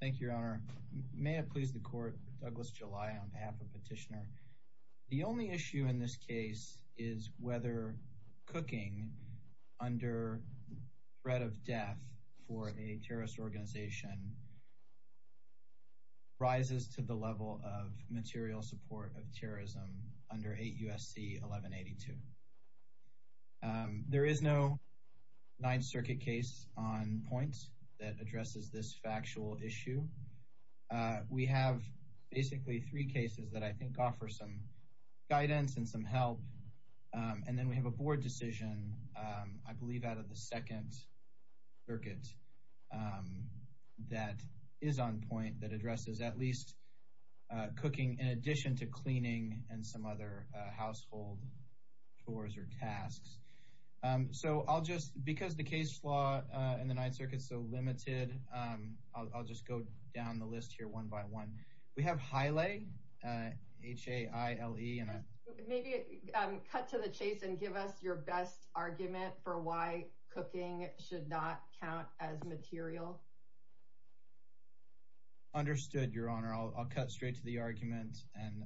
Thank you, Your Honor. May it please the Court, Douglas July on behalf of Petitioner, the only issue in this case is whether cooking under threat of death for a terrorist organization rises to the level of material support of terrorism under 8 U.S.C. 1182. There is no Ninth Circuit case on point that addresses this factual issue. We have basically three cases that I think offer some guidance and some help. And then we have a board decision, I believe, out of the Second Circuit that is on point that addresses at least cooking in addition to cleaning and some other household chores or tasks. So I'll just, because the case law in the Ninth Circuit is so limited, I'll just go down the list here one by one. We have Haile, H-A-I-L-E. Maybe cut to the chase and give us your best argument for why cooking should not count as material. Understood, Your Honor. I'll cut straight to the argument and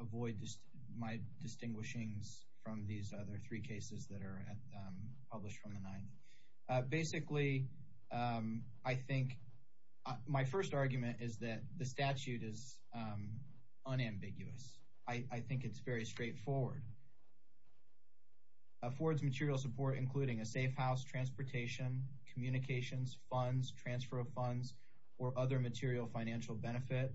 avoid my distinguishings from these other three cases that are published from the Ninth. Basically, I think my first argument is that the statute is unambiguous. I think it's very straightforward. Affords material support including a safe house, transportation, communications, funds, transfer of funds, or other material financial benefit,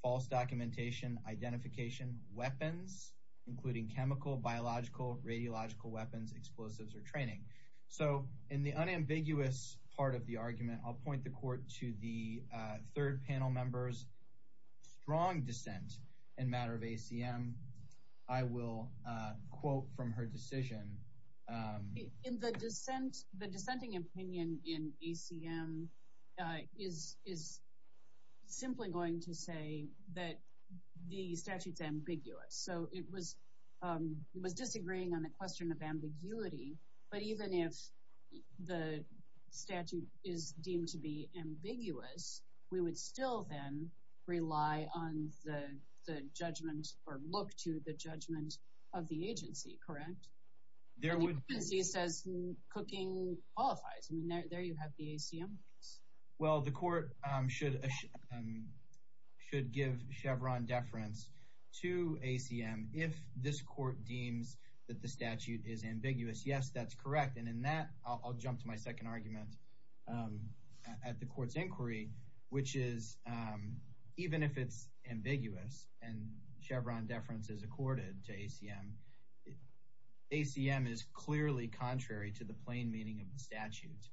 false documentation, identification, weapons, including chemical, biological, radiological weapons, explosives, or training. So in the unambiguous part of the argument, I'll point the court to the third panel member's strong dissent in matter of ACM. I will quote from her decision. In the dissent, the dissenting opinion in ACM is simply going to say that the statute is ambiguous. So it was disagreeing on the question of ambiguity, but even if the statute is deemed to be ambiguous, we would still then rely on the judgment or look to the judgment of the agency, correct? The agency says cooking qualifies. There you have the ACM case. Well, the court should give Chevron deference to ACM if this court deems that the statute is ambiguous. Yes, that's correct. And in that, I'll jump to my second argument at the court's inquiry, which is even if it's ambiguous and Chevron deference is accorded to ACM, ACM is clearly contrary to the plain meaning of the statute.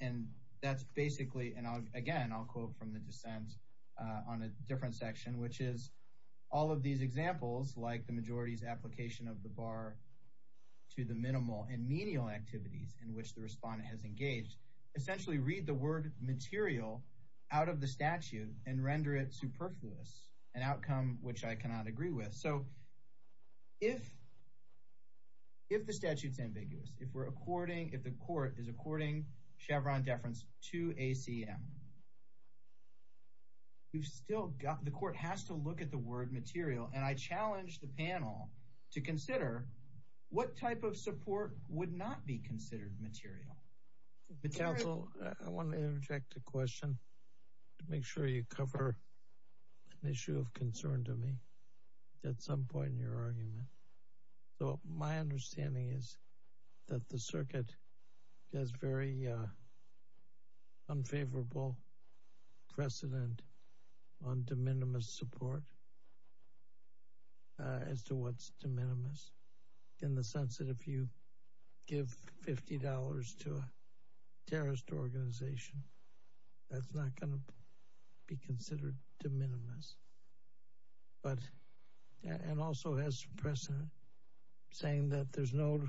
And that's basically, and again, I'll quote from the dissent on a different section, which is all of these examples, like the majority's application of the bar to the minimal and menial activities in which the respondent has engaged, essentially read the word material out of the statute and render it superfluous, an outcome which I cannot agree with. So if the statute's ambiguous, if the court is according Chevron deference to ACM, the court has to look at the word material. And I challenge the panel to consider what type of support would not be considered material. Counsel, I want to interject a question to make sure you cover an issue of concern to me at some point in your argument. My understanding is that the circuit has very unfavorable precedent on de minimis support as to what's de minimis in the sense that if you give $50 to a terrorist organization, that's not going to be considered de minimis. And also has precedent saying that there's no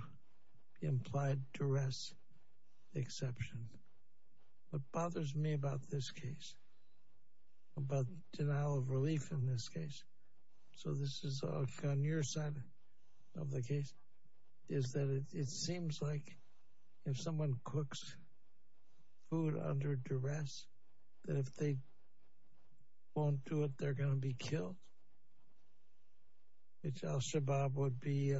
implied duress exception. What bothers me about this case, about denial of relief in this case, so this is on your side of the case, is that it seems like if someone cooks food under duress, that if they won't do it, they're going to be killed. Which Al-Shabaab would be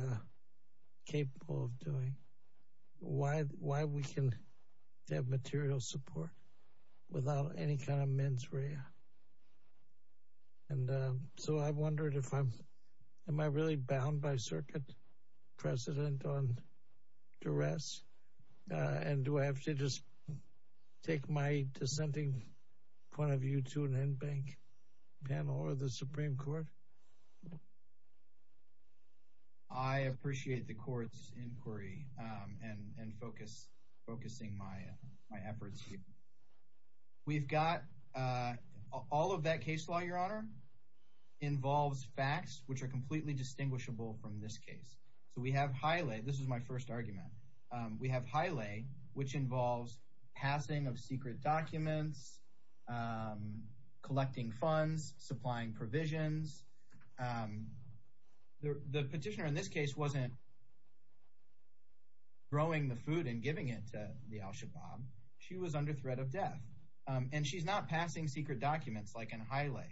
capable of doing. Why we can have material support without any kind of mens rea. And so I wondered if I'm, am I really bound by circuit precedent on duress? And do I have to just take my dissenting point of view to an in-bank panel or the Supreme Court? I appreciate the court's inquiry and focusing my efforts. We've got, all of that case law, your honor, involves facts which are completely distinguishable from this case. So we have highly, this is my first argument, we have highly which involves passing of secret documents, collecting funds, supplying provisions. The petitioner in this case wasn't throwing the food and giving it to the Al-Shabaab. She was under threat of death. And she's not passing secret documents like in Haile.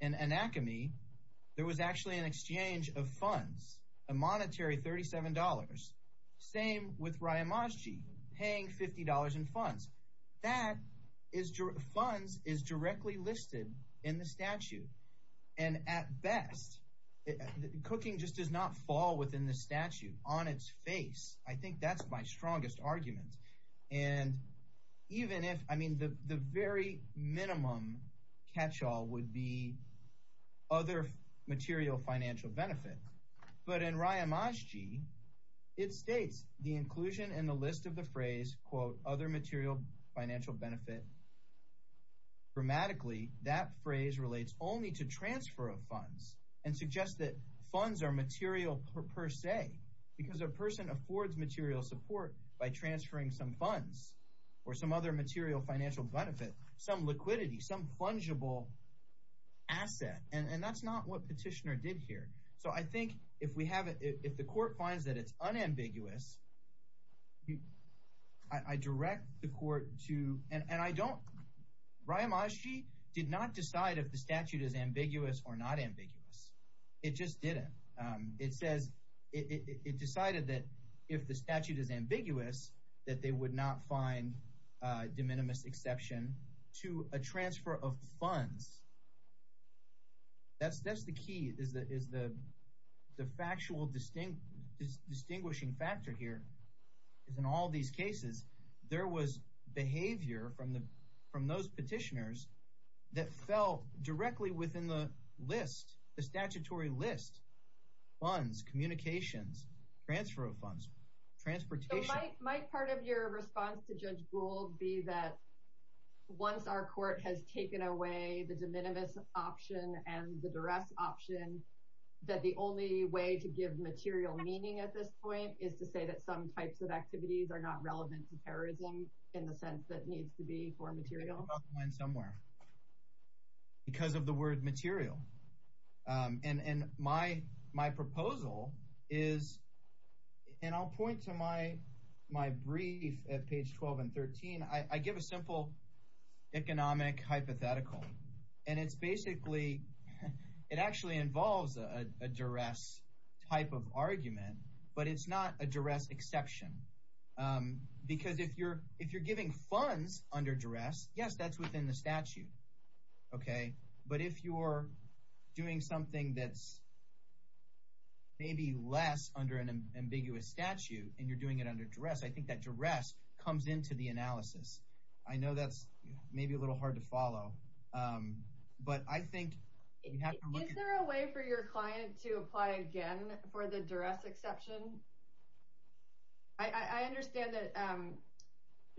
In Anakamee, there was actually an exchange of funds, a monetary $37. Same with Riyamaji, paying $50 in funds. That is, funds is directly listed in the statute. And at best, cooking just does not fall within the statute on its face. I think that's my strongest argument. And even if, I mean, the very minimum catch-all would be other material financial benefit. But in Riyamaji, it states the inclusion in the list of the phrase, quote, other material financial benefit. Grammatically, that phrase relates only to transfer of funds and suggests that funds are material per se. Because a person affords material support by transferring some funds or some other material financial benefit, some liquidity, some fungible asset. And that's not what petitioner did here. So I think if we have, if the court finds that it's unambiguous, I direct the court to, and I don't, Riyamaji did not decide if the statute is ambiguous or not ambiguous. It just didn't. It says, it decided that if the statute is ambiguous, that they would not find de minimis exception to a transfer of funds. That's the key, is the factual distinguishing factor here. Because in all these cases, there was behavior from those petitioners that fell directly within the list, the statutory list. Funds, communications, transfer of funds, transportation. My part of your response to Judge Gould be that once our court has taken away the de minimis option and the duress option, that the only way to give material meaning at this point is to say that some types of activities are not relevant to terrorism in the sense that needs to be for material. Because of the word material. And my proposal is, and I'll point to my brief at page 12 and 13. I give a simple economic hypothetical. And it's basically, it actually involves a duress type of argument. But it's not a duress exception. Because if you're giving funds under duress, yes, that's within the statute. But if you're doing something that's maybe less under an ambiguous statute, and you're doing it under duress, I think that duress comes into the analysis. I know that's maybe a little hard to follow. But I think you have to look at... Is there a way for your client to apply again for the duress exception? I understand that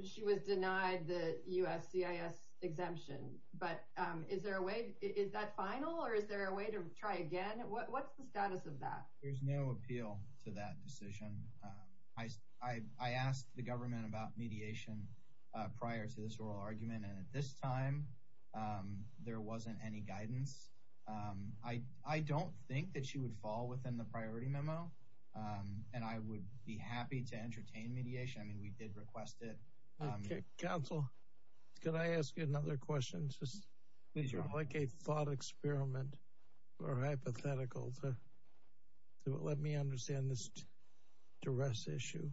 she was denied the USCIS exemption. But is there a way, is that final? Or is there a way to try again? What's the status of that? There's no appeal to that decision. I asked the government about mediation prior to this oral argument. And at this time, there wasn't any guidance. I don't think that she would fall within the priority memo. And I would be happy to entertain mediation. I mean, we did request it. Counsel, can I ask you another question? Just like a thought experiment or hypothetical. Let me understand this duress issue.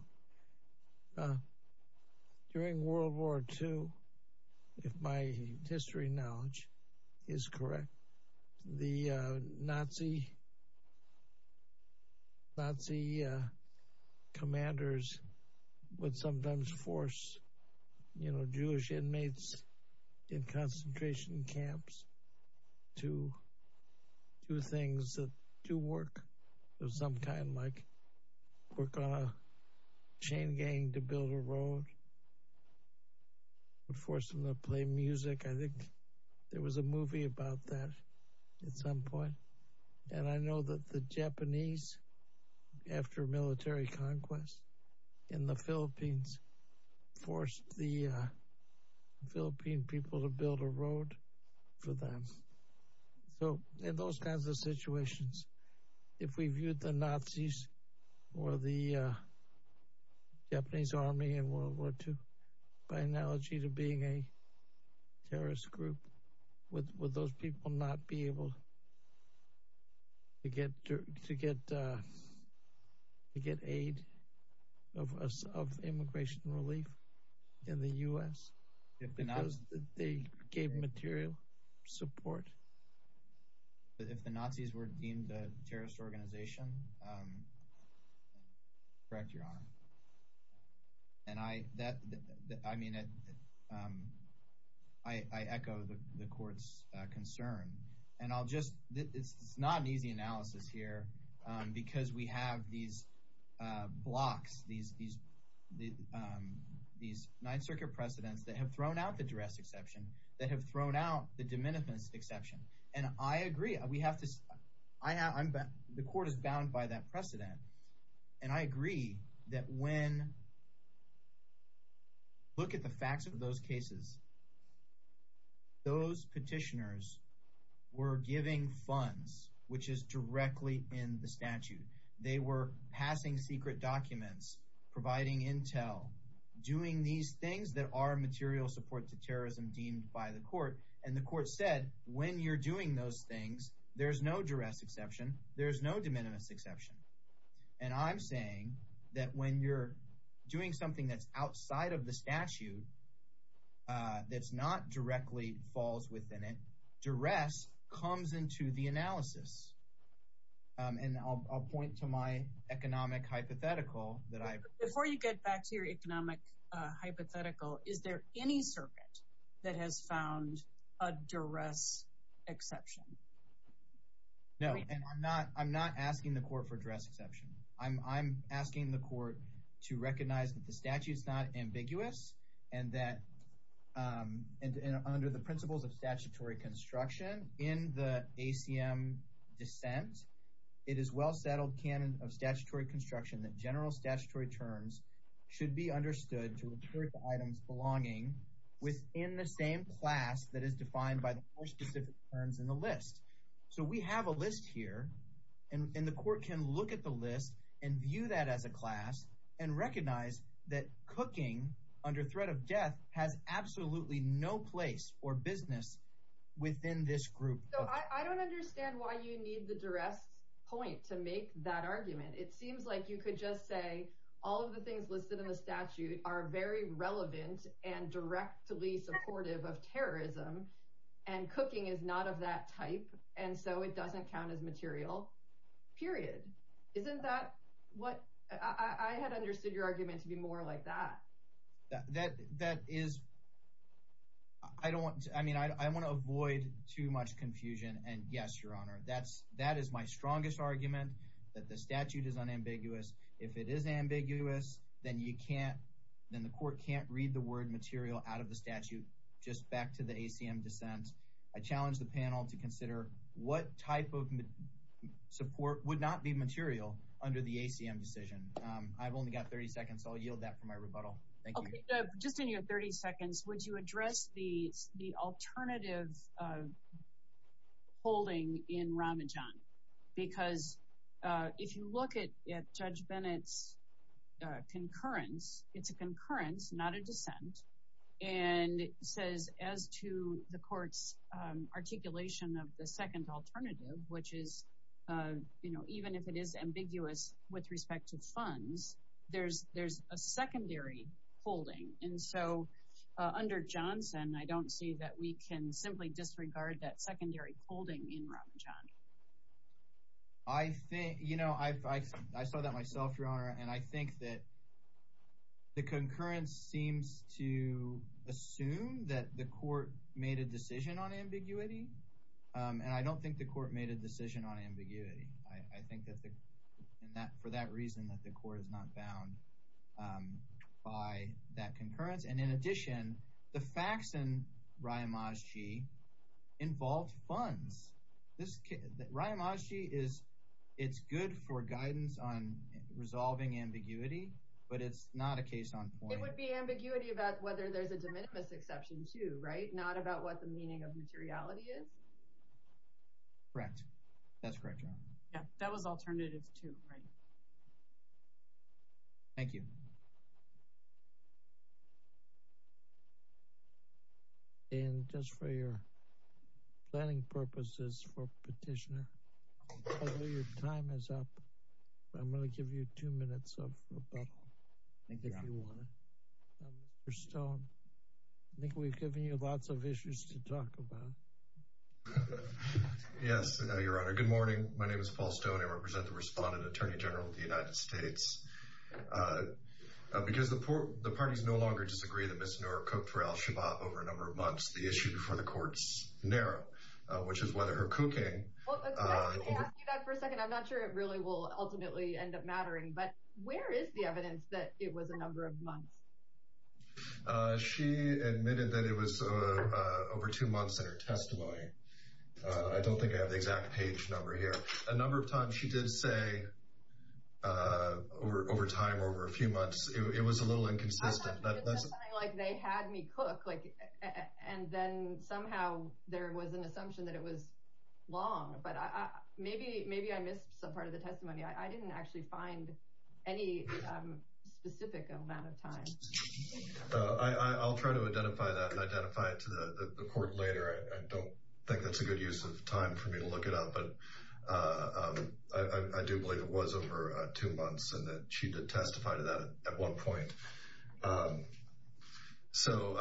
During World War II, if my history knowledge is correct, the Nazi commanders would sometimes force Jewish inmates in concentration camps to do things that do work. Some kind like work on a chain gang to build a road. Would force them to play music. I think there was a movie about that at some point. And I know that the Japanese, after military conquest in the Philippines, forced the Philippine people to build a road for them. So in those kinds of situations, if we viewed the Nazis or the Japanese army in World War II, by analogy to being a terrorist group, would those people not be able to get aid of immigration relief in the U.S.? Because they gave material support. If the Nazis were deemed a terrorist organization, correct your honor. And I echo the court's concern. It's not an easy analysis here because we have these blocks, these 9th Circuit precedents that have thrown out the duress exception, that have thrown out the diminutiveness exception. And I agree. The court is bound by that precedent. And I agree that when – look at the facts of those cases. Those petitioners were giving funds, which is directly in the statute. They were passing secret documents, providing intel, doing these things that are material support to terrorism deemed by the court. And the court said when you're doing those things, there's no duress exception. There's no diminutiveness exception. And I'm saying that when you're doing something that's outside of the statute, that's not directly falls within it, duress comes into the analysis. And I'll point to my economic hypothetical that I – Before you get back to your economic hypothetical, is there any circuit that has found a duress exception? No, and I'm not asking the court for duress exception. I'm asking the court to recognize that the statute is not ambiguous and that under the principles of statutory construction in the ACM dissent, it is well-settled canon of statutory construction that general statutory terms should be understood to include the items belonging within the same class that is defined by the four specific terms in the list. So we have a list here, and the court can look at the list and view that as a class and recognize that cooking under threat of death has absolutely no place or business within this group. So I don't understand why you need the duress point to make that argument. It seems like you could just say all of the things listed in the statute are very relevant and directly supportive of terrorism, and cooking is not of that type, and so it doesn't count as material, period. Isn't that what – I had understood your argument to be more like that. That is – I don't – I mean, I want to avoid too much confusion, and yes, Your Honor, that is my strongest argument that the statute is unambiguous. If it is ambiguous, then you can't – then the court can't read the word material out of the statute just back to the ACM dissent. I challenge the panel to consider what type of support would not be material under the ACM decision. I've only got 30 seconds, so I'll yield that for my rebuttal. Thank you. Just in your 30 seconds, would you address the alternative holding in Ramadan? Because if you look at Judge Bennett's concurrence, it's a concurrence, not a dissent, and it says as to the court's articulation of the second alternative, which is even if it is ambiguous with respect to funds, there's a secondary holding. And so under Johnson, I don't see that we can simply disregard that secondary holding in Ramadan. I think – you know, I saw that myself, Your Honor, and I think that the concurrence seems to assume that the court made a decision on ambiguity, and I don't think the court made a decision on ambiguity. I think that for that reason, that the court is not bound by that concurrence. And in addition, the facts in Ra'imazji involved funds. Ra'imazji is – it's good for guidance on resolving ambiguity, but it's not a case on point. It would be ambiguity about whether there's a de minimis exception too, right, not about what the meaning of materiality is? Correct. That's correct, Your Honor. Yeah, that was alternative too, right. Thank you. And just for your planning purposes for petitioner, I know your time is up, but I'm going to give you two minutes of rebuttal. Thank you, Your Honor. Mr. Stone, I think we've given you lots of issues to talk about. Yes, Your Honor. Good morning. My name is Paul Stone. I represent the Respondent Attorney General of the United States. Because the parties no longer disagree that Ms. Noor cooked for Al-Shabaab over a number of months, the issue before the court is narrow, which is whether her cooking – She admitted that it was over two months in her testimony. I don't think I have the exact page number here. A number of times she did say over time, over a few months, it was a little inconsistent. It sounded like they had me cook, and then somehow there was an assumption that it was long, but maybe I missed some part of the testimony. I didn't actually find any specific amount of time. I'll try to identify that and identify it to the court later. I don't think that's a good use of time for me to look it up, but I do believe it was over two months and that she did testify to that at one point. So,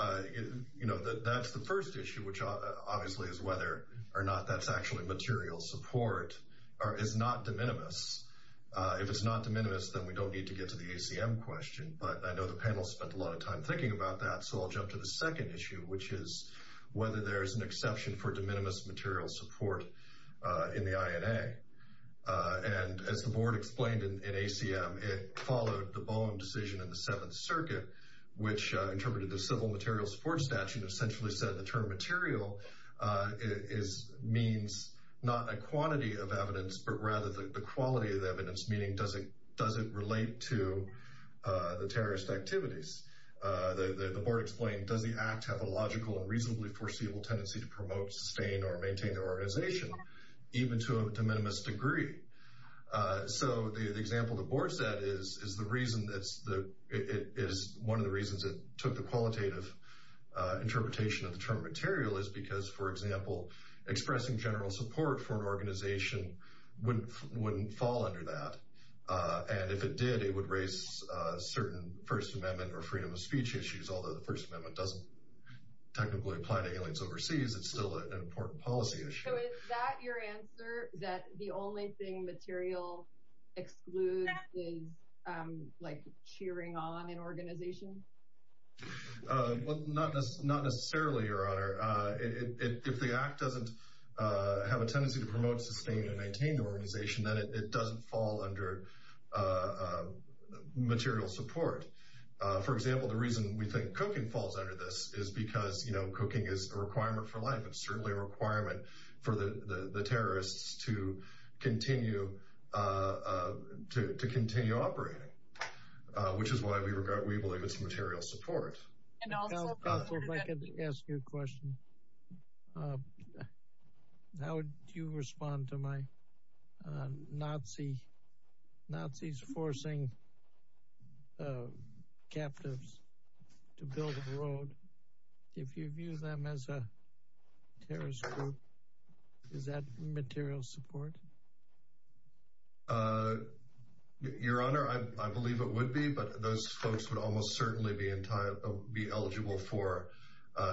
you know, that's the first issue, which obviously is whether or not that's actually material support or is not de minimis. If it's not de minimis, then we don't need to get to the ACM question. But I know the panel spent a lot of time thinking about that, so I'll jump to the second issue, which is whether there is an exception for de minimis material support in the INA. And as the board explained in ACM, it followed the Boehm decision in the Seventh Circuit, which interpreted the Civil Materials Support Statute and essentially said the term material means not a quantity of evidence, but rather the quality of the evidence, meaning does it relate to the terrorist activities. The board explained, does the act have a logical and reasonably foreseeable tendency to promote, sustain, or maintain their organization, even to a de minimis degree? So the example the board said is one of the reasons it took the qualitative interpretation of the term material is because, for example, expressing general support for an organization wouldn't fall under that. And if it did, it would raise certain First Amendment or freedom of speech issues, although the First Amendment doesn't technically apply to aliens overseas, it's still an important policy issue. So is that your answer, that the only thing material excludes is cheering on an organization? Well, not necessarily, Your Honor. If the act doesn't have a tendency to promote, sustain, and maintain the organization, then it doesn't fall under material support. For example, the reason we think cooking falls under this is because, you know, cooking is a requirement for life. It's certainly a requirement for the terrorists to continue operating, which is why we believe it's material support. And also, if I could ask you a question, how would you respond to my Nazis forcing captives to build a road, if you view them as a terrorist group, is that material support? Your Honor, I believe it would be, but those folks would almost certainly be eligible for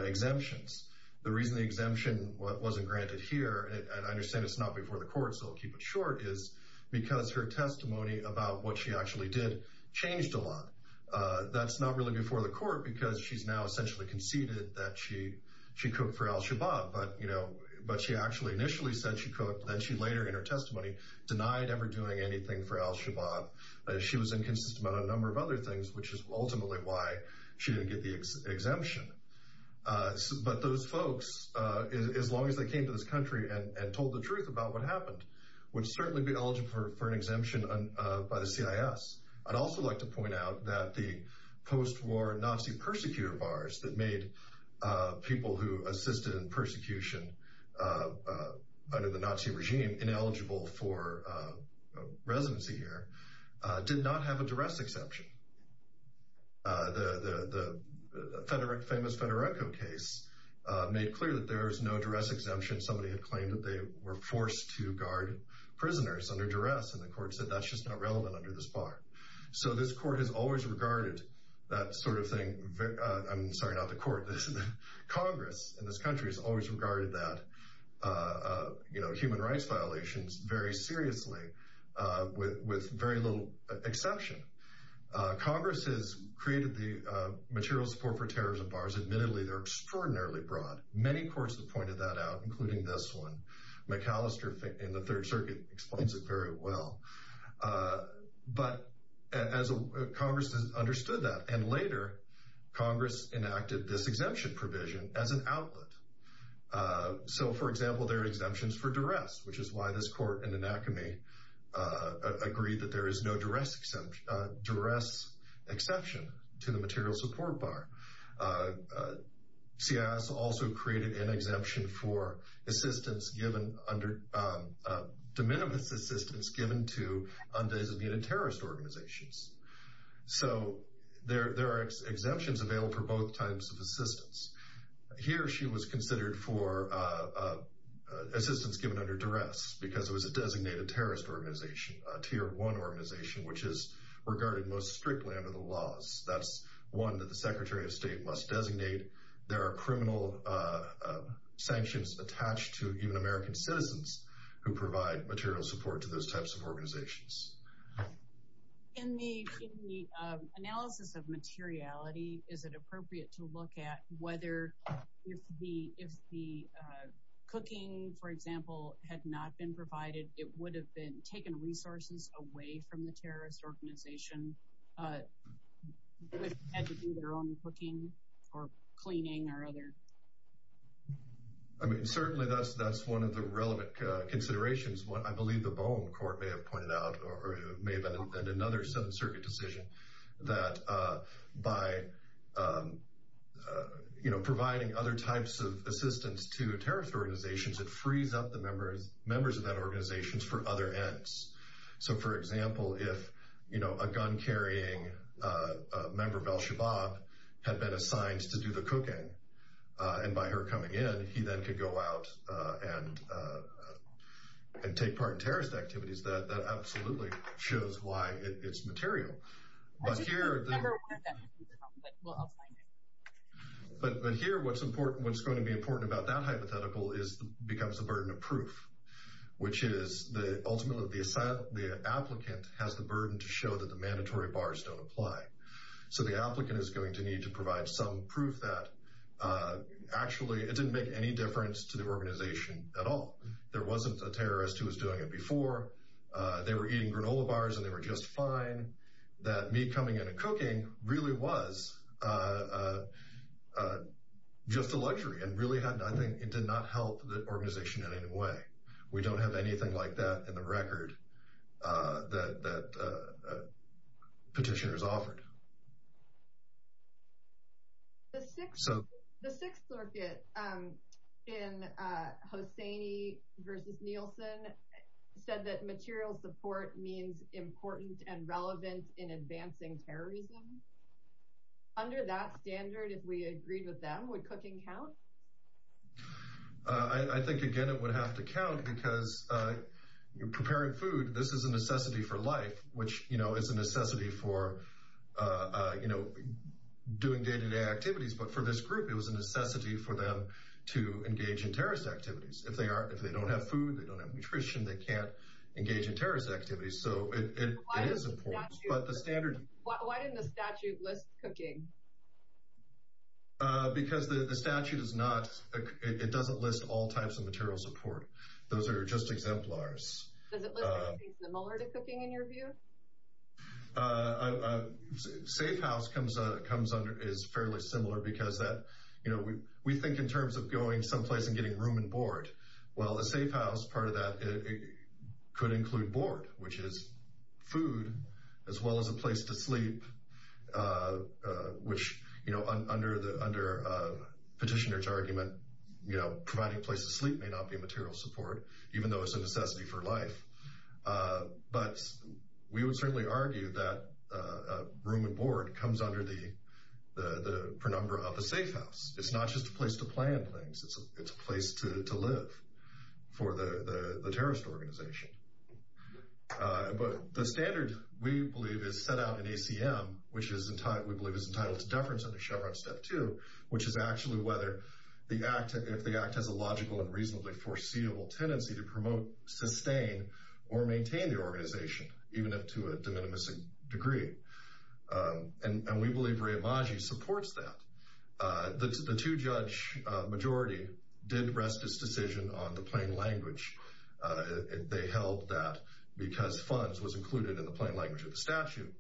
exemptions. The reason the exemption wasn't granted here, and I understand it's not before the court, so I'll keep it short, is because her testimony about what she actually did changed a lot. That's not really before the court, because she's now essentially conceded that she cooked for al-Shabaab, but she actually initially said she cooked, then she later in her testimony denied ever doing anything for al-Shabaab. She was inconsistent about a number of other things, which is ultimately why she didn't get the exemption. But those folks, as long as they came to this country and told the truth about what happened, would certainly be eligible for an exemption by the CIS. I'd also like to point out that the post-war Nazi persecutor bars that made people who assisted in persecution under the Nazi regime ineligible for residency here did not have a duress exception. The famous Federico case made clear that there is no duress exemption. Somebody had claimed that they were forced to guard prisoners under duress, and the court said that's just not relevant under this bar. So this court has always regarded that sort of thing—I'm sorry, not the court, Congress in this country—has always regarded human rights violations very seriously with very little exception. Congress has created the material support for terrorism bars. Admittedly, they're extraordinarily broad. Many courts have pointed that out, including this one. McAllister in the Third Circuit explains it very well. But Congress understood that, and later Congress enacted this exemption provision as an outlet. So, for example, there are exemptions for duress, which is why this court in Anacomie agreed that there is no duress exception to the material support bar. CIS also created an exemption for assistance given under—de minimis assistance given to undesignated terrorist organizations. So there are exemptions available for both types of assistance. Here, she was considered for assistance given under duress because it was a designated terrorist organization, a Tier 1 organization, which is regarded most strictly under the laws. That's one that the Secretary of State must designate. There are criminal sanctions attached to even American citizens who provide material support to those types of organizations. In the analysis of materiality, is it appropriate to look at whether if the cooking, for example, had not been provided, it would have been taken resources away from the terrorist organization, had to do their own cooking or cleaning or other? I mean, certainly that's one of the relevant considerations. I believe the Bowen Court may have pointed out, or may have been another Seventh Circuit decision, that by providing other types of assistance to terrorist organizations, it frees up the members of that organization for other ends. So, for example, if a gun-carrying member of al-Shabaab had been assigned to do the cooking, and by her coming in, he then could go out and take part in terrorist activities, that absolutely shows why it's material. But here, what's going to be important about that hypothetical becomes the burden of proof, which is ultimately the applicant has the burden to show that the mandatory bars don't apply. So the applicant is going to need to provide some proof that actually it didn't make any difference to the organization at all. There wasn't a terrorist who was doing it before. They were eating granola bars and they were just fine. That me coming in and cooking really was just a luxury and really did not help the organization in any way. We don't have anything like that in the record that petitioners offered. The Sixth Circuit in Hosseini v. Nielsen said that material support means important and relevant in advancing terrorism. Under that standard, if we agreed with them, would cooking count? I think, again, it would have to count because preparing food, this is a necessity for life, which is a necessity for doing day-to-day activities. But for this group, it was a necessity for them to engage in terrorist activities. If they don't have food, they don't have nutrition, they can't engage in terrorist activities. Why didn't the statute list cooking? Because the statute doesn't list all types of material support. Those are just exemplars. Does it list anything similar to cooking in your view? A safe house is fairly similar because we think in terms of going someplace and getting room and board. Well, a safe house, part of that could include board, which is food, as well as a place to sleep, which under petitioners' argument, providing a place to sleep may not be material support, even though it's a necessity for life. But we would certainly argue that room and board comes under the prenumbra of a safe house. It's not just a place to plan things. It's a place to live for the terrorist organization. But the standard, we believe, is set out in ACM, which we believe is entitled to deference under Chevron Step 2, which is actually whether the act, if the act has a logical and reasonably foreseeable tendency to promote, sustain, or maintain the organization, even if to a de minimis degree. And we believe Re-Imagi supports that. The two-judge majority did rest its decision on the plain language. They held that because funds was included in the plain language of the statute,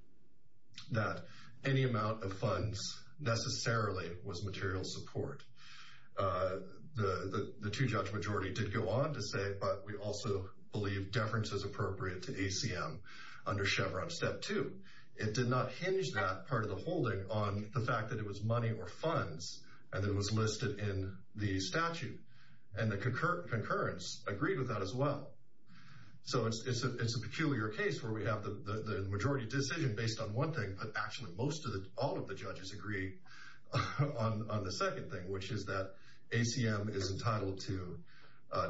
that any amount of funds necessarily was material support. The two-judge majority did go on to say, but we also believe deference is appropriate to ACM under Chevron Step 2. It did not hinge that part of the holding on the fact that it was money or funds, and it was listed in the statute. And the concurrence agreed with that as well. So it's a peculiar case where we have the majority decision based on one thing, but actually all of the judges agree on the second thing, which is that ACM is entitled to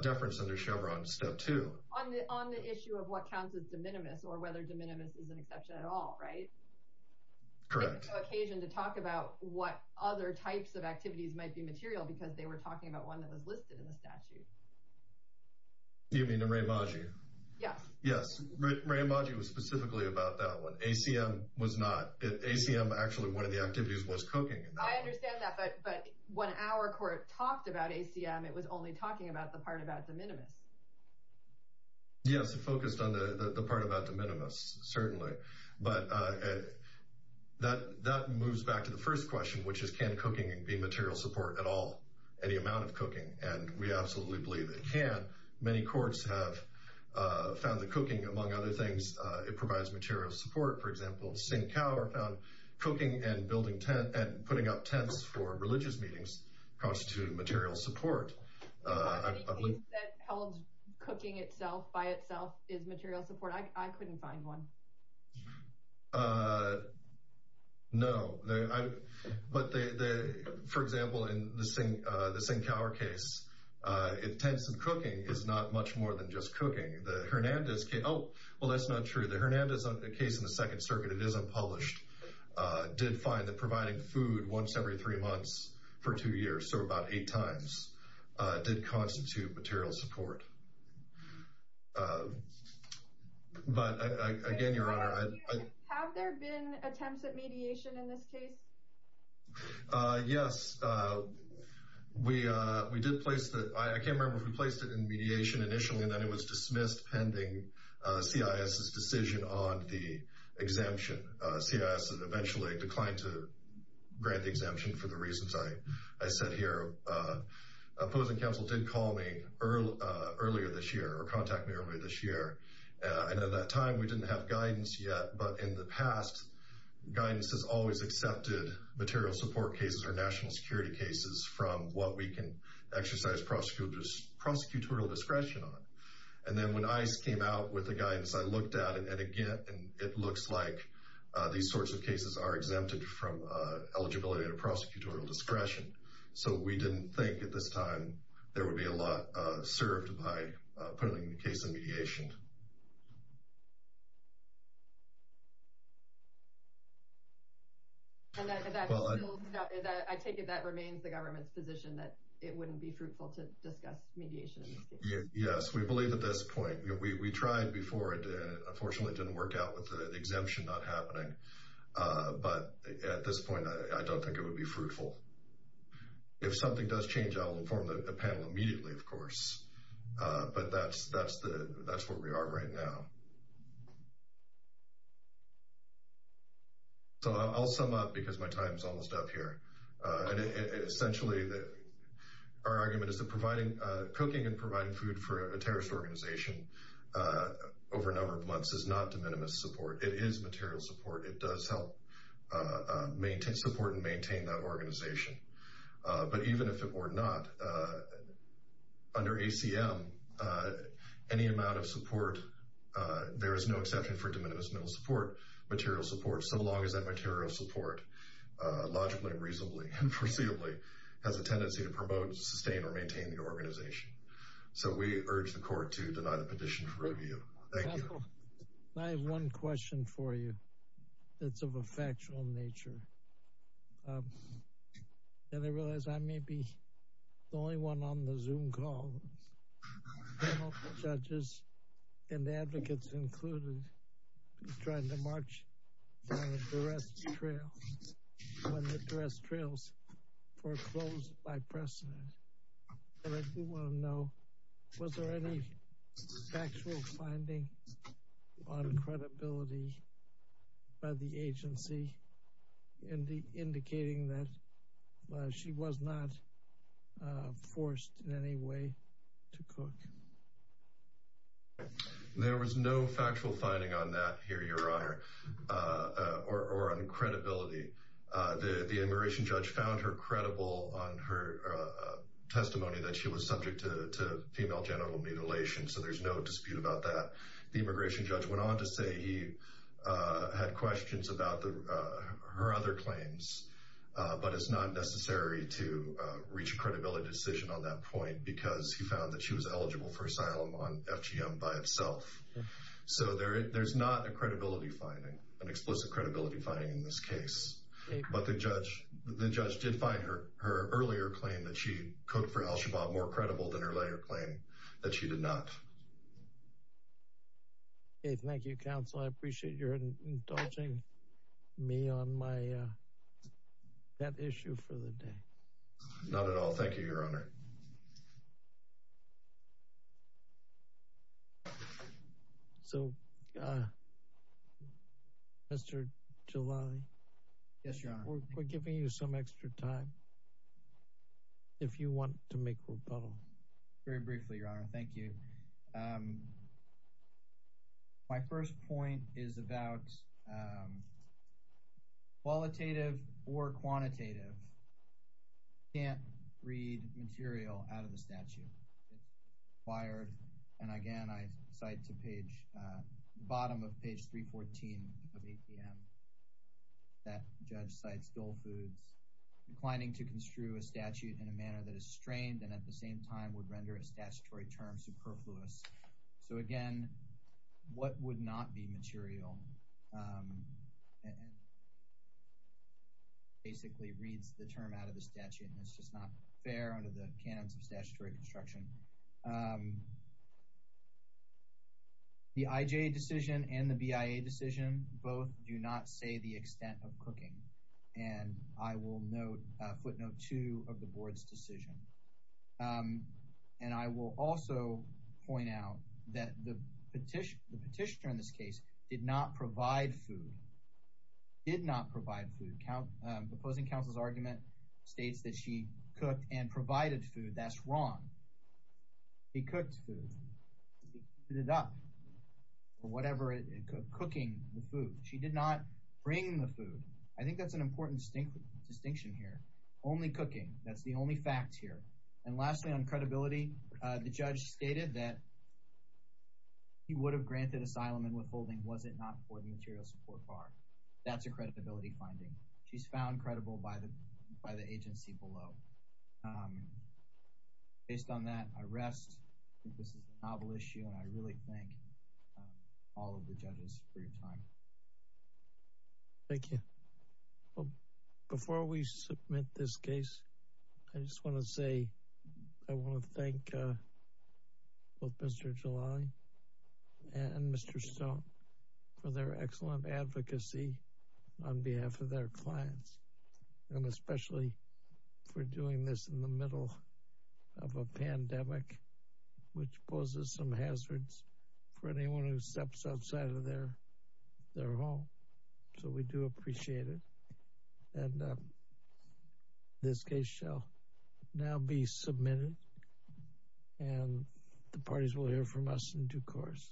deference under Chevron Step 2. On the issue of what counts as de minimis, or whether de minimis is an exception at all, right? Correct. There was no occasion to talk about what other types of activities might be material because they were talking about one that was listed in the statute. You mean Re-Imagi? Yes. Yes, Re-Imagi was specifically about that one. ACM was not. ACM, actually, one of the activities was cooking. I understand that, but when our court talked about ACM, it was only talking about the part about de minimis. Yes, it focused on the part about de minimis, certainly. But that moves back to the first question, which is can cooking be material support at all, any amount of cooking? And we absolutely believe it can. Many courts have found that cooking, among other things, it provides material support. For example, St. Coward found cooking and putting up tents for religious meetings constitute material support. Any case that held cooking by itself is material support? I couldn't find one. No, but for example, in the St. Coward case, tents and cooking is not much more than just cooking. The Hernandez case, oh, well that's not true. The Hernandez case in the Second Circuit, it is unpublished, did find that providing food once every three months for two years, so about eight times. It did constitute material support. But again, Your Honor. Have there been attempts at mediation in this case? Yes, we did place, I can't remember if we placed it in mediation initially and then it was dismissed pending CIS's decision on the exemption. CIS eventually declined to grant the exemption for the reasons I said here. Opposing counsel did call me earlier this year, or contact me earlier this year, and at that time we didn't have guidance yet. But in the past, guidance has always accepted material support cases or national security cases from what we can exercise prosecutorial discretion on. And then when ICE came out with the guidance, I looked at it and again, it looks like these sorts of cases are exempted from eligibility and prosecutorial discretion. So we didn't think at this time there would be a lot served by putting the case in mediation. And I take it that remains the government's position that it wouldn't be fruitful to discuss mediation in this case? Yes, we believe at this point. We tried before and unfortunately it didn't work out with the exemption not happening. But at this point, I don't think it would be fruitful. If something does change, I'll inform the panel immediately, of course. But that's where we are right now. So I'll sum up because my time is almost up here. Essentially, our argument is that providing cooking and providing food for a terrorist organization over a number of months is not de minimis support. It is material support. It does help support and maintain that organization. But even if it were not, under ACM, any amount of support, there is no exception for de minimis material support, so long as that material support, logically, reasonably, and foreseeably, has a tendency to promote, sustain, or maintain the organization. So we urge the court to deny the petition for review. Thank you. I have one question for you. It's of a factual nature. And I realize I may be the only one on the Zoom call. Judges and advocates included tried to march down the duress trail when the duress trails were closed by precedent. And I do want to know, was there any factual finding on credibility by the agency indicating that she was not forced in any way to cook? There was no factual finding on that here, Your Honor, or on credibility. The immigration judge found her credible on her testimony that she was subject to female genital mutilation, so there's no dispute about that. The immigration judge went on to say he had questions about her other claims, but it's not necessary to reach a credibility decision on that point, because he found that she was eligible for asylum on FGM by itself. So there's not a credibility finding, an explicit credibility finding in this case. But the judge did find her earlier claim that she cooked for al-Shabaab more credible than her later claim that she did not. Thank you, counsel. I appreciate your indulging me on that issue for the day. Not at all. Thank you, Your Honor. So, Mr. Jalali, we're giving you some extra time if you want to make rebuttals. Very briefly, Your Honor. Thank you. My first point is about qualitative or quantitative. You can't read material out of the statute. It's required, and again, I cite to the bottom of page 314 of APM. That judge cites dole foods. Declining to construe a statute in a manner that is strained and at the same time would render a statutory term superfluous. So again, what would not be material basically reads the term out of the statute. It's just not fair under the canons of statutory construction. The IJA decision and the BIA decision both do not say the extent of cooking. And I will footnote two of the board's decision. And I will also point out that the petitioner in this case did not provide food. Did not provide food. The opposing counsel's argument states that she cooked and provided food. That's wrong. He cooked food. He heated it up. Or whatever, cooking the food. She did not bring the food. I think that's an important distinction here. Only cooking. That's the only fact here. And lastly, on credibility, the judge stated that he would have granted asylum and withholding was it not for the material support bar. That's a credibility finding. She's found credible by the agency below. Based on that, I rest. I think this is a novel issue, and I really thank all of the judges for your time. Thank you. Before we submit this case, I just want to say I want to thank both Mr. July and Mr. Stone for their excellent advocacy on behalf of their clients. And especially for doing this in the middle of a pandemic, which poses some hazards for anyone who steps outside of their home. So we do appreciate it. And this case shall now be submitted and the parties will hear from us in due course.